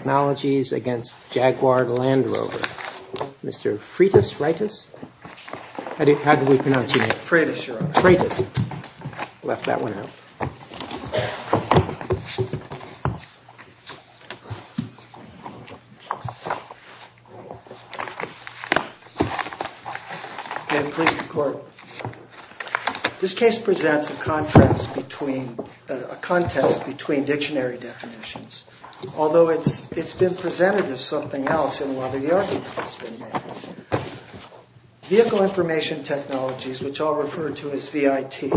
Technologies against Jaguar Land Rover. Mr. Freitas Raitis? How do we pronounce your name? Freitas, Your Honor. Freitas. Left that one out. This case presents a contest between dictionary definitions, although it's been presented as something else in a lot of the arguments that have been made. Vehicle Information Technologies, which I'll refer to as VIT,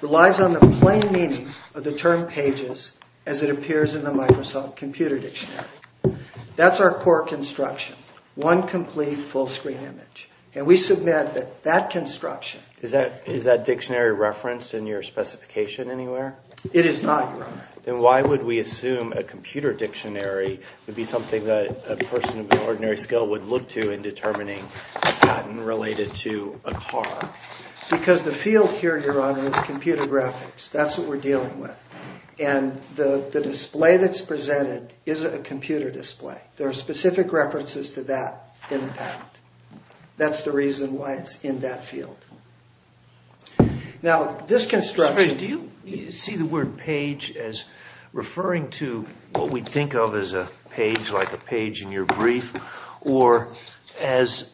relies on the plain meaning of the term pages as it appears in the Microsoft Computer Dictionary. That's our core construction. One complete full screen image. And we submit that that construction... Is that dictionary referenced in your specification anywhere? It is not, Your Honor. Then why would we assume a computer dictionary would be something that a person of ordinary skill would look to in determining a patent related to a car? Because the field here, Your Honor, is computer graphics. That's what we're dealing with. And the display that's presented isn't a computer display. There are specific references to that in the patent. That's the reason why it's in that field. Now, this construction... Do you see the word page as referring to what we think of as a page, like a page in your brief, or as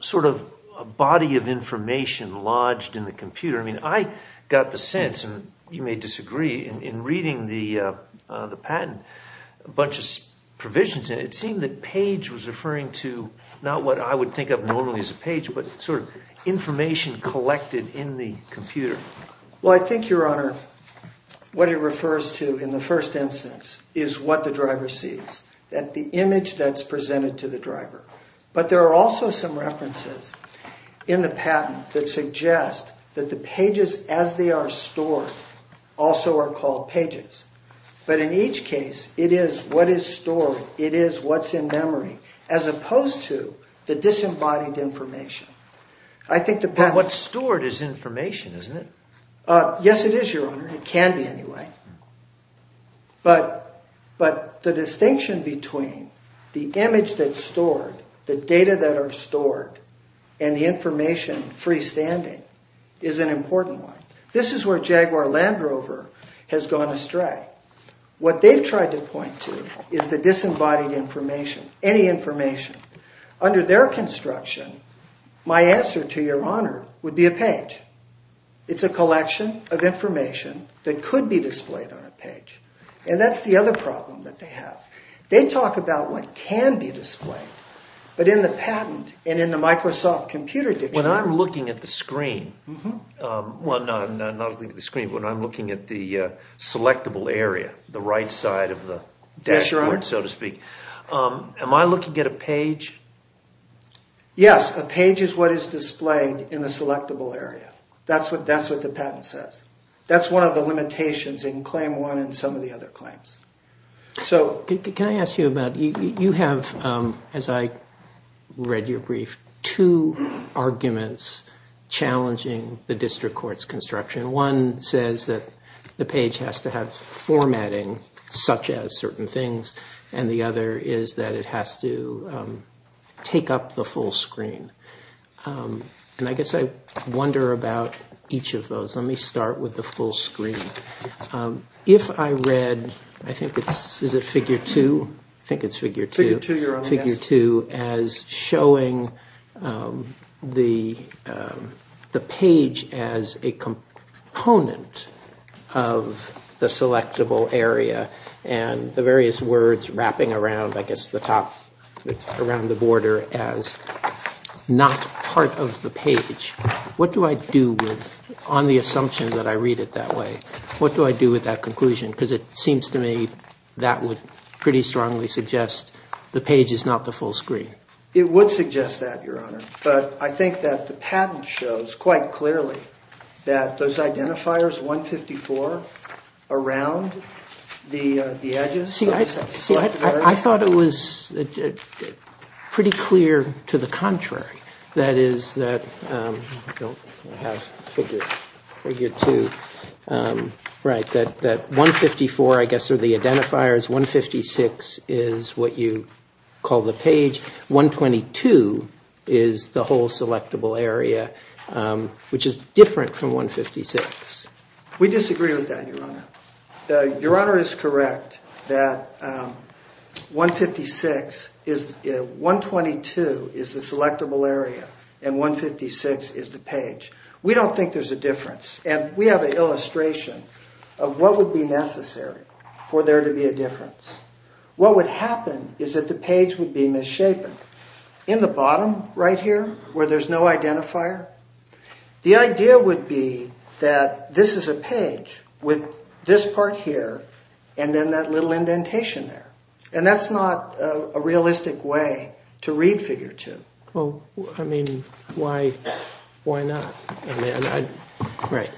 sort of a body of information lodged in the computer? I mean, I got the sense, and you may disagree, in reading the patent, a bunch of provisions, and it seemed that page was referring to not what I would think of normally as a page, but sort of information collected in the computer. Well, I think, Your Honor, what it refers to in the first instance is what the driver sees. The image that's presented to the driver. But there are also some references in the patent that suggest that the pages as they are stored also are called pages. But in each case, it is what is stored, it is what's in memory, as opposed to the disembodied information. But what's stored is information, isn't it? Yes, it is, Your Honor. It can be, anyway. But the distinction between the image that's stored, the data that are stored, and the information freestanding is an important one. This is where Jaguar Land Rover has gone astray. What they've tried to point to is the disembodied information, any information. Under their construction, my answer to Your Honor would be a page. It's a collection of information that could be displayed on a page. And that's the other problem that they have. They talk about what can be displayed, but in the patent and in the Microsoft Computer Dictionary... When I'm looking at the screen, well, not looking at the screen, but when I'm looking at the selectable area, the right side of the dashboard, so to speak, am I looking at a page? Yes, a page is what is displayed in the selectable area. That's what the patent says. That's one of the limitations in Claim 1 and some of the other claims. Can I ask you about... You have, as I read your brief, two arguments challenging the district court's construction. One says that the page has to have formatting, such as certain things. And the other is that it has to take up the full screen. And I guess I wonder about each of those. Let me start with the full screen. If I read, I think it's, is it Figure 2? I think it's Figure 2. Figure 2, your honor, yes. Figure 2 as showing the page as a component of the selectable area and the various words wrapping around, I guess, the top, around the border as not part of the page. What do I do with, on the assumption that I read it that way, what do I do with that conclusion? Because it seems to me that would pretty strongly suggest the page is not the full screen. It would suggest that, your honor. But I think that the patent shows quite clearly that those identifiers, 154, around the edges... I thought it was pretty clear to the contrary. That is that, I have Figure 2, right, that 154, I guess, are the identifiers. 156 is what you call the page. 122 is the whole selectable area, which is different from 156. We disagree with that, your honor. Your honor is correct that 156 is, 122 is the selectable area and 156 is the page. We don't think there's a difference. And we have an illustration of what would be necessary for there to be a difference. What would happen is that the page would be misshapen. In the bottom right here, where there's no identifier, the idea would be that this is a page with this part here and then that little indentation there. And that's not a realistic way to read Figure 2. Well, I mean, why not? Right.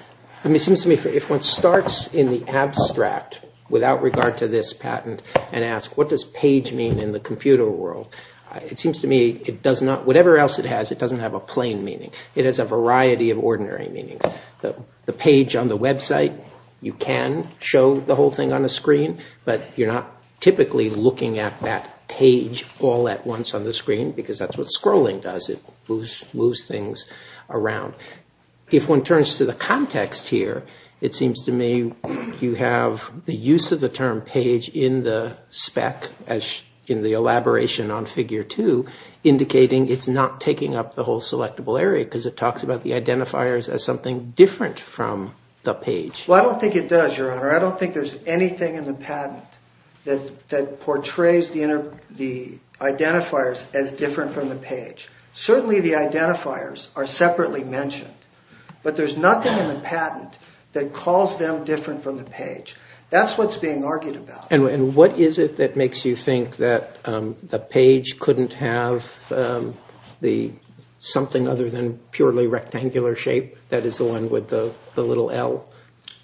I mean, it seems to me if one starts in the abstract, without regard to this patent, and asks what does page mean in the computer world, it seems to me it does not, whatever else it has, it doesn't have a plain meaning. It has a variety of ordinary meanings. The page on the website, you can show the whole thing on a screen, but you're not typically looking at that page all at once on the screen, because that's what scrolling does. It moves things around. If one turns to the context here, it seems to me you have the use of the term page in the spec, in the elaboration on Figure 2, indicating it's not taking up the whole selectable area, because it talks about the identifiers as something different from the page. Well, I don't think it does, Your Honor. I don't think there's anything in the patent that portrays the identifiers as different from the page. Certainly the identifiers are separately mentioned, but there's nothing in the patent that calls them different from the page. That's what's being argued about. And what is it that makes you think that the page couldn't have something other than purely rectangular shape, that is the one with the little L,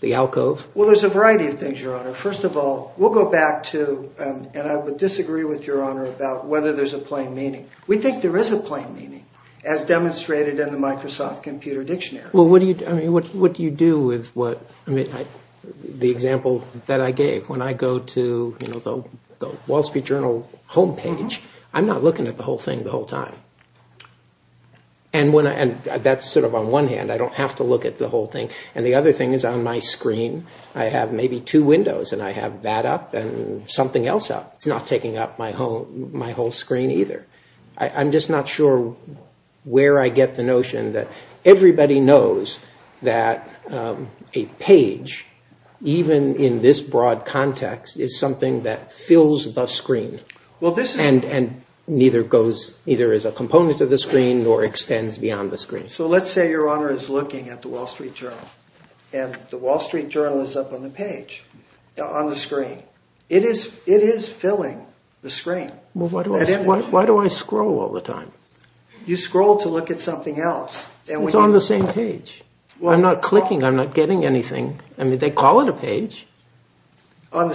the alcove? Well, there's a variety of things, Your Honor. First of all, we'll go back to, and I would disagree with Your Honor about whether there's a plain meaning. We think there is a plain meaning, as demonstrated in the Microsoft Computer Dictionary. Well, what do you do with the example that I gave? When I go to the Wall Street Journal homepage, I'm not looking at the whole thing the whole time. And that's sort of on one hand. I don't have to look at the whole thing. And the other thing is on my screen, I have maybe two windows, and I have that up and something else up. It's not taking up my whole screen either. I'm just not sure where I get the notion that everybody knows that a page, even in this broad context, is something that fills the screen and neither is a component of the screen nor extends beyond the screen. So let's say Your Honor is looking at the Wall Street Journal, and the Wall Street Journal is up on the page, on the screen. It is filling the screen. Well, why do I scroll all the time? You scroll to look at something else. It's on the same page. I'm not clicking. I'm not getting anything. I mean, they call it a page. On the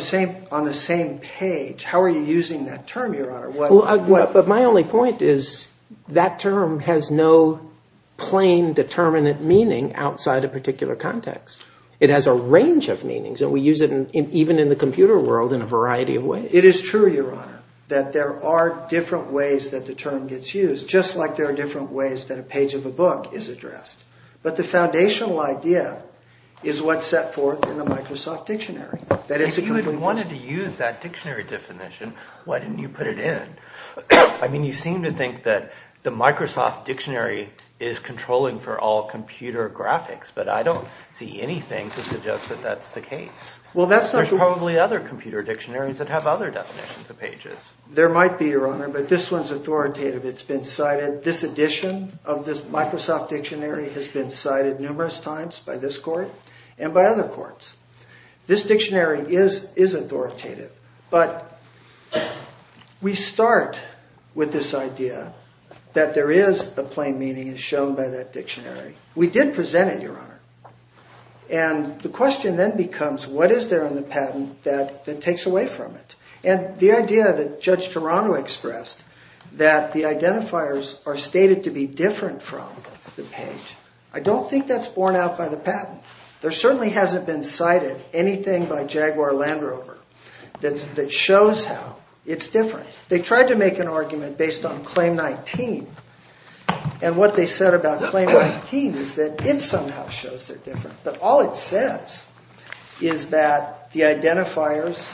same page. How are you using that term, Your Honor? But my only point is that term has no plain, determinate meaning outside a particular context. It has a range of meanings, and we use it even in the computer world in a variety of ways. It is true, Your Honor, that there are different ways that the term gets used, just like there are different ways that a page of a book is addressed. But the foundational idea is what's set forth in the Microsoft Dictionary. If you had wanted to use that dictionary definition, why didn't you put it in? I mean, you seem to think that the Microsoft Dictionary is controlling for all computer graphics, but I don't see anything to suggest that that's the case. There's probably other computer dictionaries that have other definitions of pages. There might be, Your Honor, but this one's authoritative. It's been cited. This edition of this Microsoft Dictionary has been cited numerous times by this court and by other courts. This dictionary is authoritative, but we start with this idea that there is a plain meaning as shown by that dictionary. We did present it, Your Honor, and the question then becomes what is there in the patent that takes away from it? And the idea that Judge Toronto expressed that the identifiers are stated to be different from the page, I don't think that's borne out by the patent. There certainly hasn't been cited anything by Jaguar Land Rover that shows how it's different. They tried to make an argument based on Claim 19, and what they said about Claim 19 is that it somehow shows they're different. But all it says is that the identifiers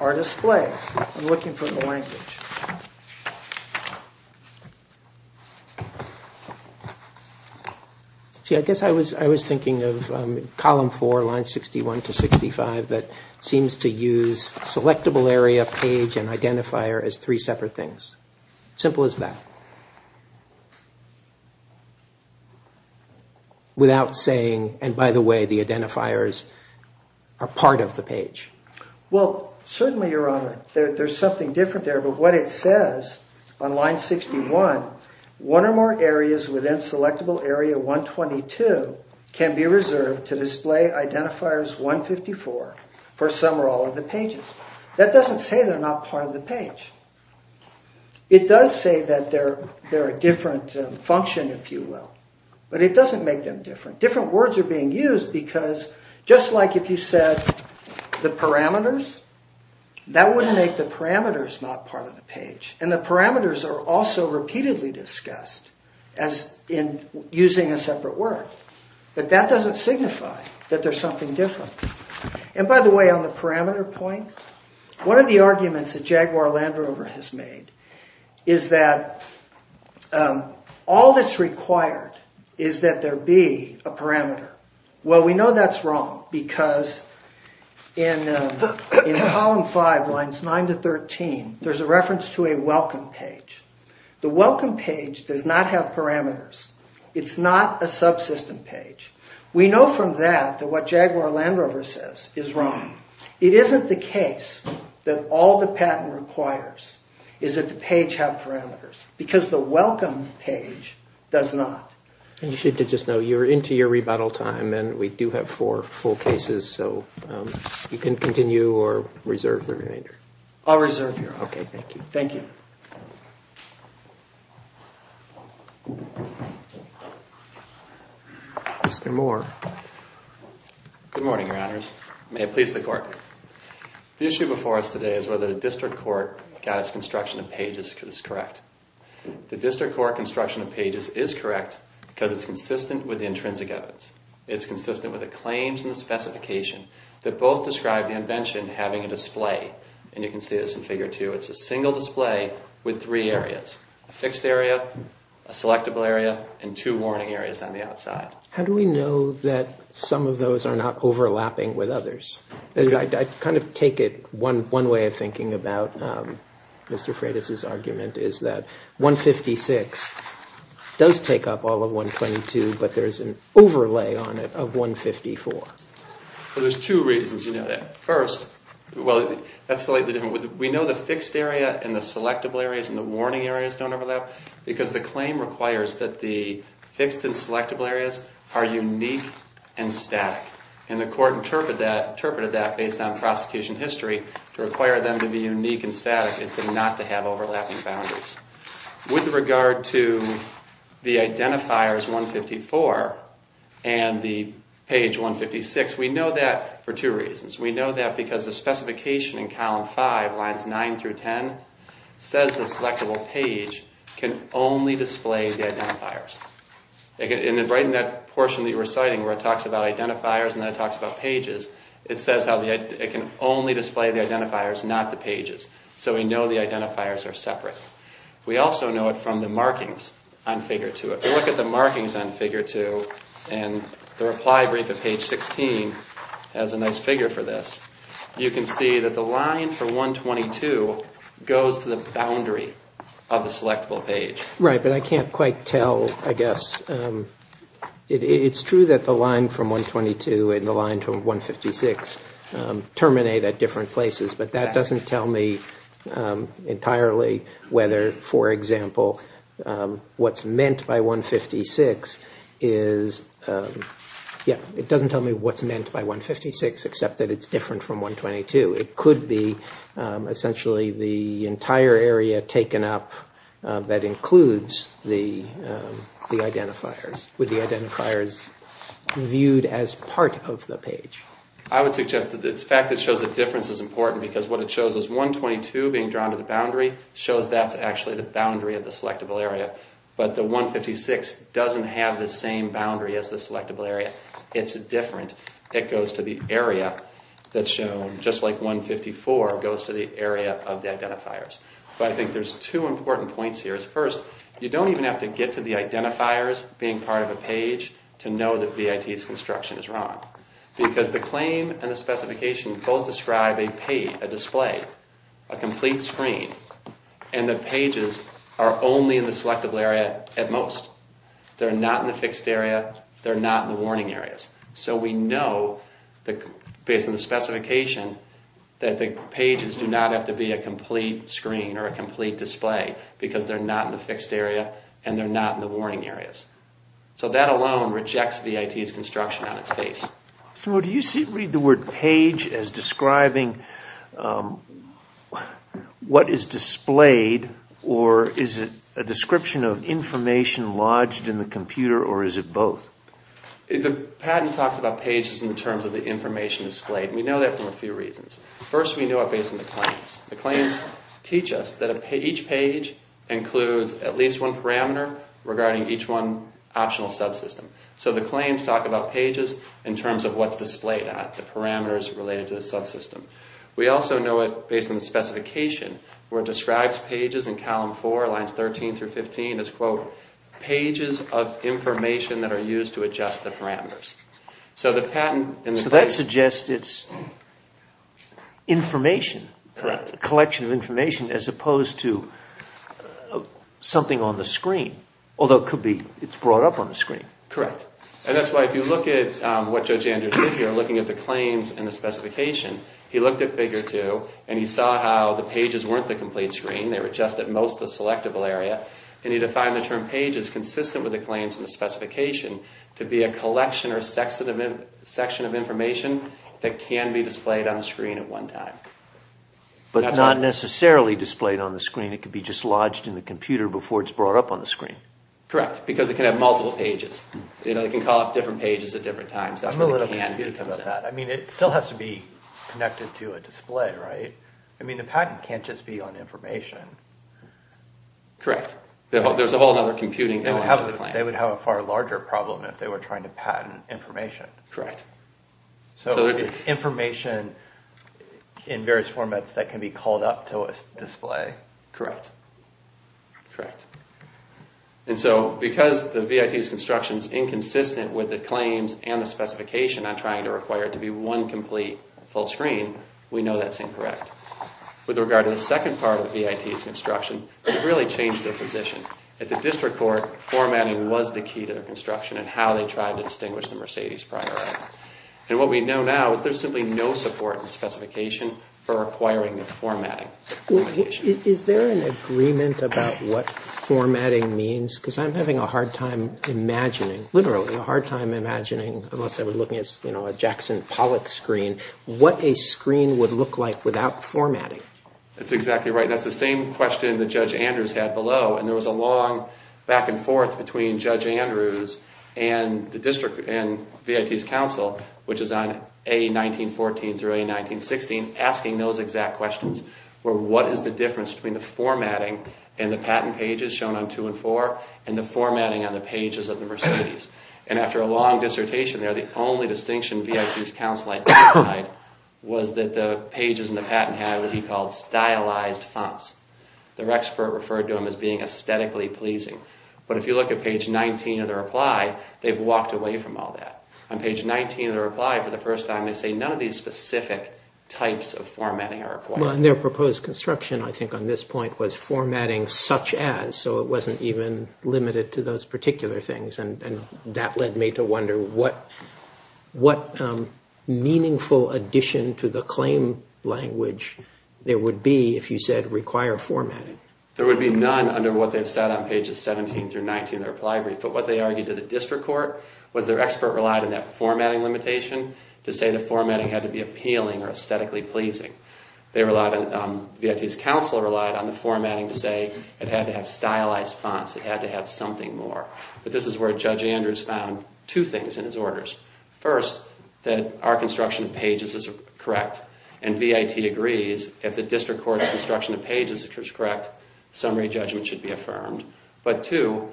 are displayed. I'm looking for the language. See, I guess I was thinking of Column 4, Lines 61 to 65, that seems to use selectable area, page, and identifier as three separate things. Simple as that, without saying, and by the way, the identifiers are part of the page. Well, certainly, Your Honor, there's something different there. But what it says on Line 61, one or more areas within selectable area 122 can be reserved to display identifiers 154 for some or all of the pages. That doesn't say they're not part of the page. It does say that they're a different function, if you will. But it doesn't make them different. Different words are being used because, just like if you said the parameters, that would make the parameters not part of the page. And the parameters are also repeatedly discussed in using a separate word. But that doesn't signify that there's something different. And by the way, on the parameter point, one of the arguments that Jaguar Land Rover has made is that all that's required is that there be a parameter. Well, we know that's wrong because in Column 5, Lines 9 to 13, there's a reference to a welcome page. The welcome page does not have parameters. It's not a subsystem page. We know from that that what Jaguar Land Rover says is wrong. It isn't the case that all the patent requires is that the page have parameters because the welcome page does not. And you should just know you're into your rebuttal time and we do have four full cases, so you can continue or reserve the remainder. I'll reserve here. Okay, thank you. Thank you. Mr. Moore. Good morning, Your Honors. May it please the Court. The issue before us today is whether the District Court got its construction of pages correct. The District Court construction of pages is correct because it's consistent with the intrinsic evidence. It's consistent with the claims and the specification that both describe the invention having a display. And you can see this in Figure 2. It's a single display with three areas, a fixed area, a selectable area, and two warning areas on the outside. How do we know that some of those are not overlapping with others? I kind of take it one way of thinking about Mr. Freitas' argument is that 156 does take up all of 122, but there's an overlay on it of 154. Well, there's two reasons you know that. First, well, that's slightly different. We know the fixed area and the selectable areas and the warning areas don't overlap because the claim requires that the fixed and selectable areas are unique and static. And the Court interpreted that based on prosecution history to require them to be unique and static is not to have overlapping boundaries. With regard to the identifiers 154 and the page 156, we know that for two reasons. We know that because the specification in Column 5, Lines 9 through 10, says the selectable page can only display the identifiers. And right in that portion that you were citing where it talks about identifiers and then it talks about pages, it says it can only display the identifiers, not the pages. So we know the identifiers are separate. We also know it from the markings on Figure 2. If you look at the markings on Figure 2 and the reply brief at page 16 as a nice figure for this, you can see that the line for 122 goes to the boundary of the selectable page. Right, but I can't quite tell, I guess. It's true that the line from 122 and the line from 156 terminate at different places, but that doesn't tell me entirely whether, for example, what's meant by 156 is, yeah, it doesn't tell me what's meant by 156 except that it's different from 122. It could be essentially the entire area taken up that includes the identifiers, with the identifiers viewed as part of the page. I would suggest that the fact that it shows a difference is important because what it shows is 122 being drawn to the boundary shows that's actually the boundary of the selectable area. But the 156 doesn't have the same boundary as the selectable area. It's different. It goes to the area that's shown, just like 154 goes to the area of the identifiers. But I think there's two important points here. First, you don't even have to get to the identifiers being part of a page to know that VIT's construction is wrong. Because the claim and the specification both describe a page, a display, a complete screen, and the pages are only in the selectable area at most. They're not in the fixed area. They're not in the warning areas. So we know, based on the specification, that the pages do not have to be a complete screen or a complete display because they're not in the fixed area and they're not in the warning areas. So that alone rejects VIT's construction on its face. So do you read the word page as describing what is displayed or is it a description of information lodged in the computer or is it both? The patent talks about pages in terms of the information displayed. We know that for a few reasons. First, we know it based on the claims. The claims teach us that each page includes at least one parameter regarding each one optional subsystem. So the claims talk about pages in terms of what's displayed at, the parameters related to the subsystem. We also know it based on the specification, where it describes pages in column four, lines 13 through 15, as, quote, pages of information that are used to adjust the parameters. So that suggests it's information, a collection of information, as opposed to something on the screen, although it could be it's brought up on the screen. Correct. And that's why if you look at what Judge Andrew did here, looking at the claims and the specification, he looked at figure two and he saw how the pages weren't the complete screen. They were just at most the selectable area. And he defined the term pages consistent with the claims and the specification to be a collection or section of information that can be displayed on the screen at one time. But not necessarily displayed on the screen. It could be just lodged in the computer before it's brought up on the screen. Correct, because it can have multiple pages. It can call up different pages at different times. I'm a little bit confused about that. I mean, it still has to be connected to a display, right? I mean, the patent can't just be on information. Correct. There's a whole other computing element to the claim. They would have a far larger problem if they were trying to patent information. Correct. So it's information in various formats that can be called up to a display. Correct. Correct. And so because the VIT's construction is inconsistent with the claims and the specification on trying to require it to be one complete full screen, we know that's incorrect. With regard to the second part of the VIT's construction, it really changed their position. At the district court, formatting was the key to their construction and how they tried to distinguish the Mercedes prior item. And what we know now is there's simply no support in the specification for requiring the formatting. Is there an agreement about what formatting means? Because I'm having a hard time imagining, literally a hard time imagining, unless I were looking at a Jackson Pollock screen, what a screen would look like without formatting. That's exactly right. That's the same question that Judge Andrews had below. And there was a long back and forth between Judge Andrews and the district and VIT's counsel, which is on A1914 through A1916, asking those exact questions. What is the difference between the formatting in the patent pages shown on two and four and the formatting on the pages of the Mercedes? And after a long dissertation there, the only distinction VIT's counsel identified was that the pages in the patent had what he called stylized fonts. Their expert referred to them as being aesthetically pleasing. But if you look at page 19 of the reply, they've walked away from all that. On page 19 of the reply, for the first time, they say none of these specific types of formatting are required. Their proposed construction, I think on this point, was formatting such as, so it wasn't even limited to those particular things. And that led me to wonder what meaningful addition to the claim language there would be if you said require formatting. There would be none under what they've said on pages 17 through 19 of the reply brief. But what they argued to the district court was their expert relied on that formatting limitation to say the formatting had to be appealing or aesthetically pleasing. VIT's counsel relied on the formatting to say it had to have stylized fonts. It had to have something more. But this is where Judge Andrews found two things in his orders. First, that our construction of pages is correct. And VIT agrees if the district court's construction of pages is correct, summary judgment should be affirmed. But two,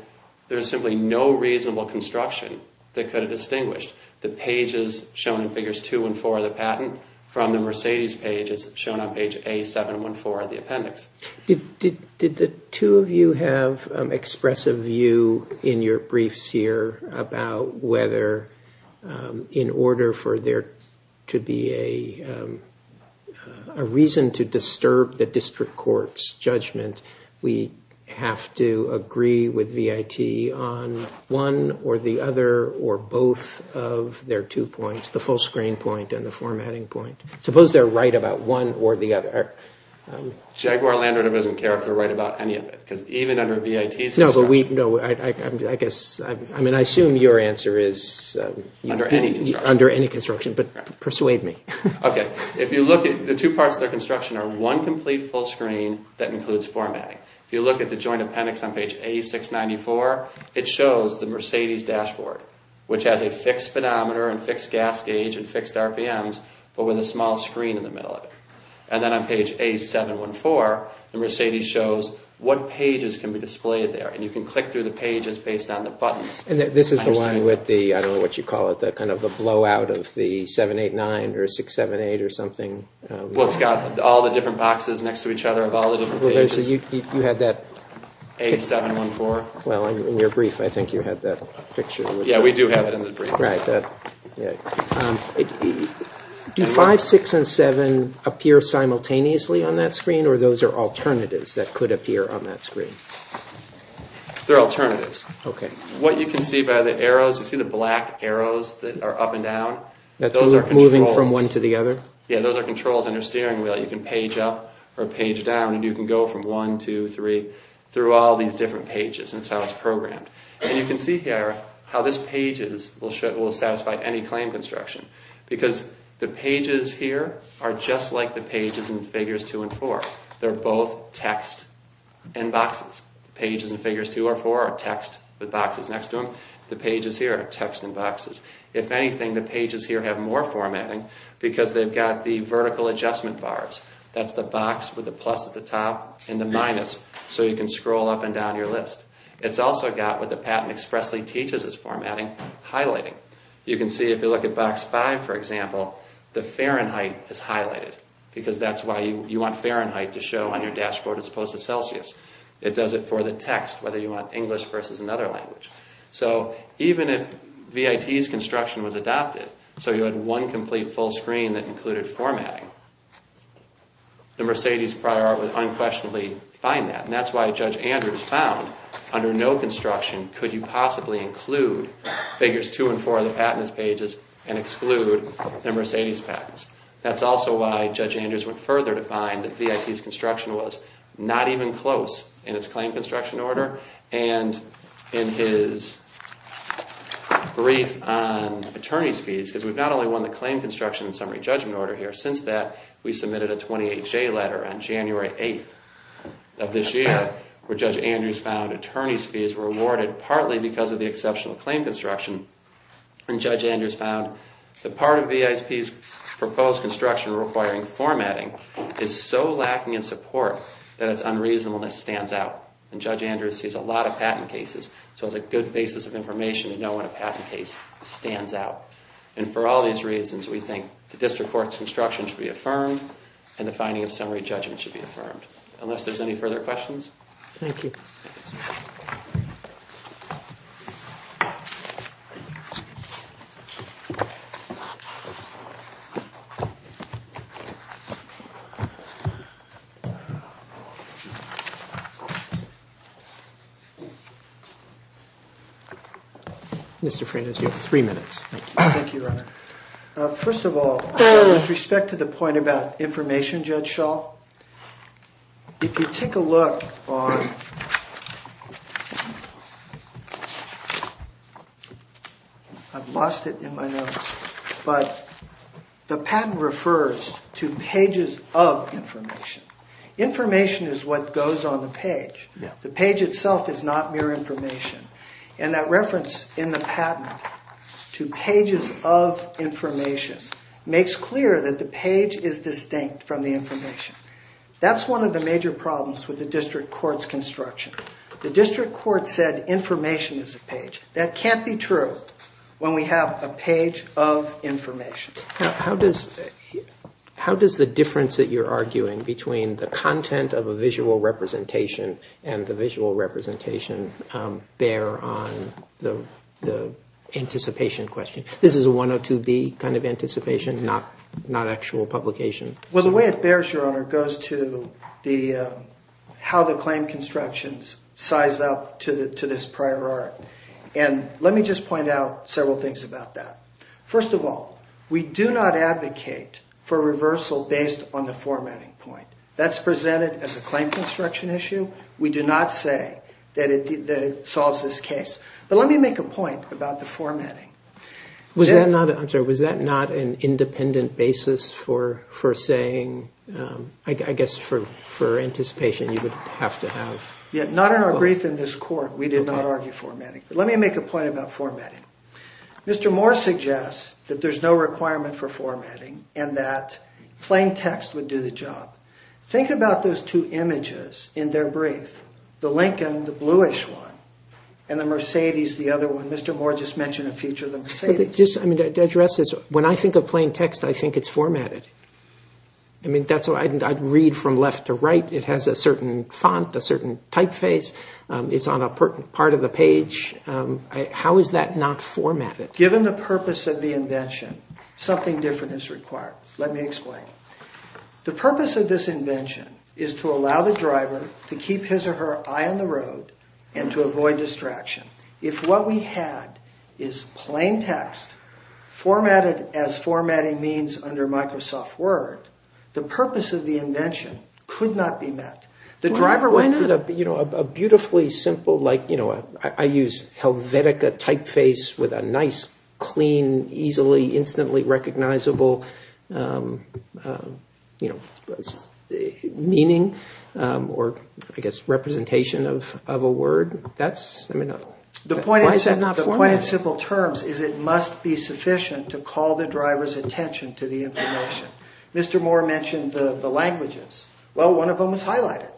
there's simply no reasonable construction that could have distinguished the pages shown in figures 2 and 4 of the patent from the Mercedes pages shown on page A714 of the appendix. Did the two of you have expressive view in your briefs here about whether in order for there to be a reason to disturb the district court's judgment, we have to agree with VIT on one or the other or both of their two points, the full screen point and the formatting point? Suppose they're right about one or the other. Jaguar Land Rover doesn't care if they're right about any of it because even under VIT's construction. I assume your answer is under any construction, but persuade me. The two parts of their construction are one complete full screen that includes formatting. If you look at the joint appendix on page A694, it shows the Mercedes dashboard, which has a fixed speedometer and fixed gas gauge and fixed RPMs, but with a small screen in the middle of it. And then on page A714, the Mercedes shows what pages can be displayed there. And you can click through the pages based on the buttons. And this is the one with the, I don't know what you call it, the kind of the blowout of the 789 or 678 or something. Well, it's got all the different boxes next to each other of all the different pages. You had that. A714. Well, in your brief, I think you had that picture. Yeah, we do have it in the brief. Right. Do 5, 6, and 7 appear simultaneously on that screen, or those are alternatives that could appear on that screen? They're alternatives. Okay. What you can see by the arrows, you see the black arrows that are up and down? Those are controls. Moving from one to the other? Yeah, those are controls on your steering wheel. You can page up or page down, and you can go from 1, 2, 3 through all these different pages. That's how it's programmed. And you can see here how this page will satisfy any claim construction because the pages here are just like the pages in Figures 2 and 4. They're both text and boxes. Pages in Figures 2 or 4 are text with boxes next to them. The pages here are text and boxes. If anything, the pages here have more formatting because they've got the vertical adjustment bars. That's the box with the plus at the top and the minus so you can scroll up and down your list. It's also got what the patent expressly teaches as formatting, highlighting. You can see if you look at box 5, for example, the Fahrenheit is highlighted because that's why you want Fahrenheit to show on your dashboard as opposed to Celsius. It does it for the text, whether you want English versus another language. So even if VIT's construction was adopted so you had one complete full screen that included formatting, the Mercedes prior art would unquestionably find that. And that's why Judge Andrews found under no construction could you possibly include Figures 2 and 4 of the patents pages and exclude the Mercedes patents. That's also why Judge Andrews went further to find that VIT's construction was not even close in its claim construction order and in his brief on attorney's fees because we've not only won the claim construction and summary judgment order here. But since that, we submitted a 28-J letter on January 8th of this year where Judge Andrews found attorney's fees were awarded partly because of the exceptional claim construction. And Judge Andrews found the part of VIT's proposed construction requiring formatting is so lacking in support that its unreasonableness stands out. And Judge Andrews sees a lot of patent cases. So it's a good basis of information to know when a patent case stands out. And for all these reasons, we think the district court's construction should be affirmed and the finding of summary judgment should be affirmed. Unless there's any further questions? Thank you. Mr. Freitas, you have three minutes. Thank you, Your Honor. First of all, with respect to the point about information, Judge Schall, if you take a look on, I've lost it in my notes, but the patent refers to pages of information. Information is what goes on the page. The page itself is not mere information. And that reference in the patent to pages of information makes clear that the page is distinct from the information. That's one of the major problems with the district court's construction. The district court said information is a page. That can't be true when we have a page of information. How does the difference that you're arguing between the content of a visual representation and the visual representation bear on the anticipation question? This is a 102B kind of anticipation, not actual publication. Well, the way it bears, Your Honor, goes to how the claim constructions size up to this prior art. And let me just point out several things about that. First of all, we do not advocate for reversal based on the formatting point. That's presented as a claim construction issue. We do not say that it solves this case. But let me make a point about the formatting. Was that not an independent basis for saying, I guess, for anticipation you would have to have? Not in our brief in this court. We did not argue formatting. Let me make a point about formatting. Mr. Moore suggests that there's no requirement for formatting and that plain text would do the job. Think about those two images in their brief. The Lincoln, the bluish one, and the Mercedes, the other one. Mr. Moore just mentioned a feature of the Mercedes. When I think of plain text, I think it's formatted. I'd read from left to right. It has a certain font, a certain typeface. It's on a part of the page. How is that not formatted? Given the purpose of the invention, something different is required. Let me explain. The purpose of this invention is to allow the driver to keep his or her eye on the road and to avoid distraction. If what we had is plain text formatted as formatting means under Microsoft Word, the purpose of the invention could not be met. I use Helvetica typeface with a nice, clean, easily, instantly recognizable meaning or representation of a word. The point of simple terms is it must be sufficient to call the driver's attention to the information. Mr. Moore mentioned the languages. Well, one of them was highlighted.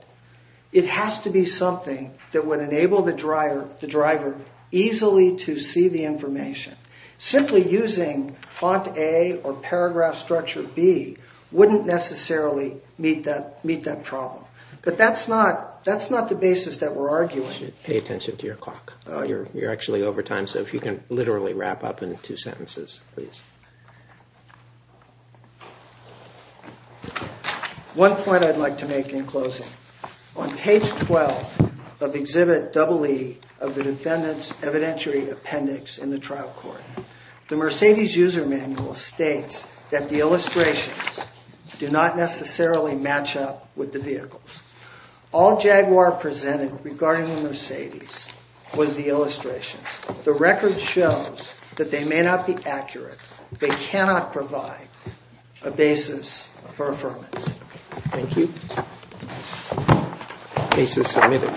It has to be something that would enable the driver easily to see the information. Simply using font A or paragraph structure B wouldn't necessarily meet that problem. But that's not the basis that we're arguing. You should pay attention to your clock. You're actually over time, so if you can literally wrap up in two sentences, please. One point I'd like to make in closing. On page 12 of Exhibit EE of the defendant's evidentiary appendix in the trial court, the Mercedes user manual states that the illustrations do not necessarily match up with the vehicles. All Jaguar presented regarding the Mercedes was the illustrations. The record shows that they may not be accurate. They cannot provide a basis for affirmance. Thank you. Case is submitted.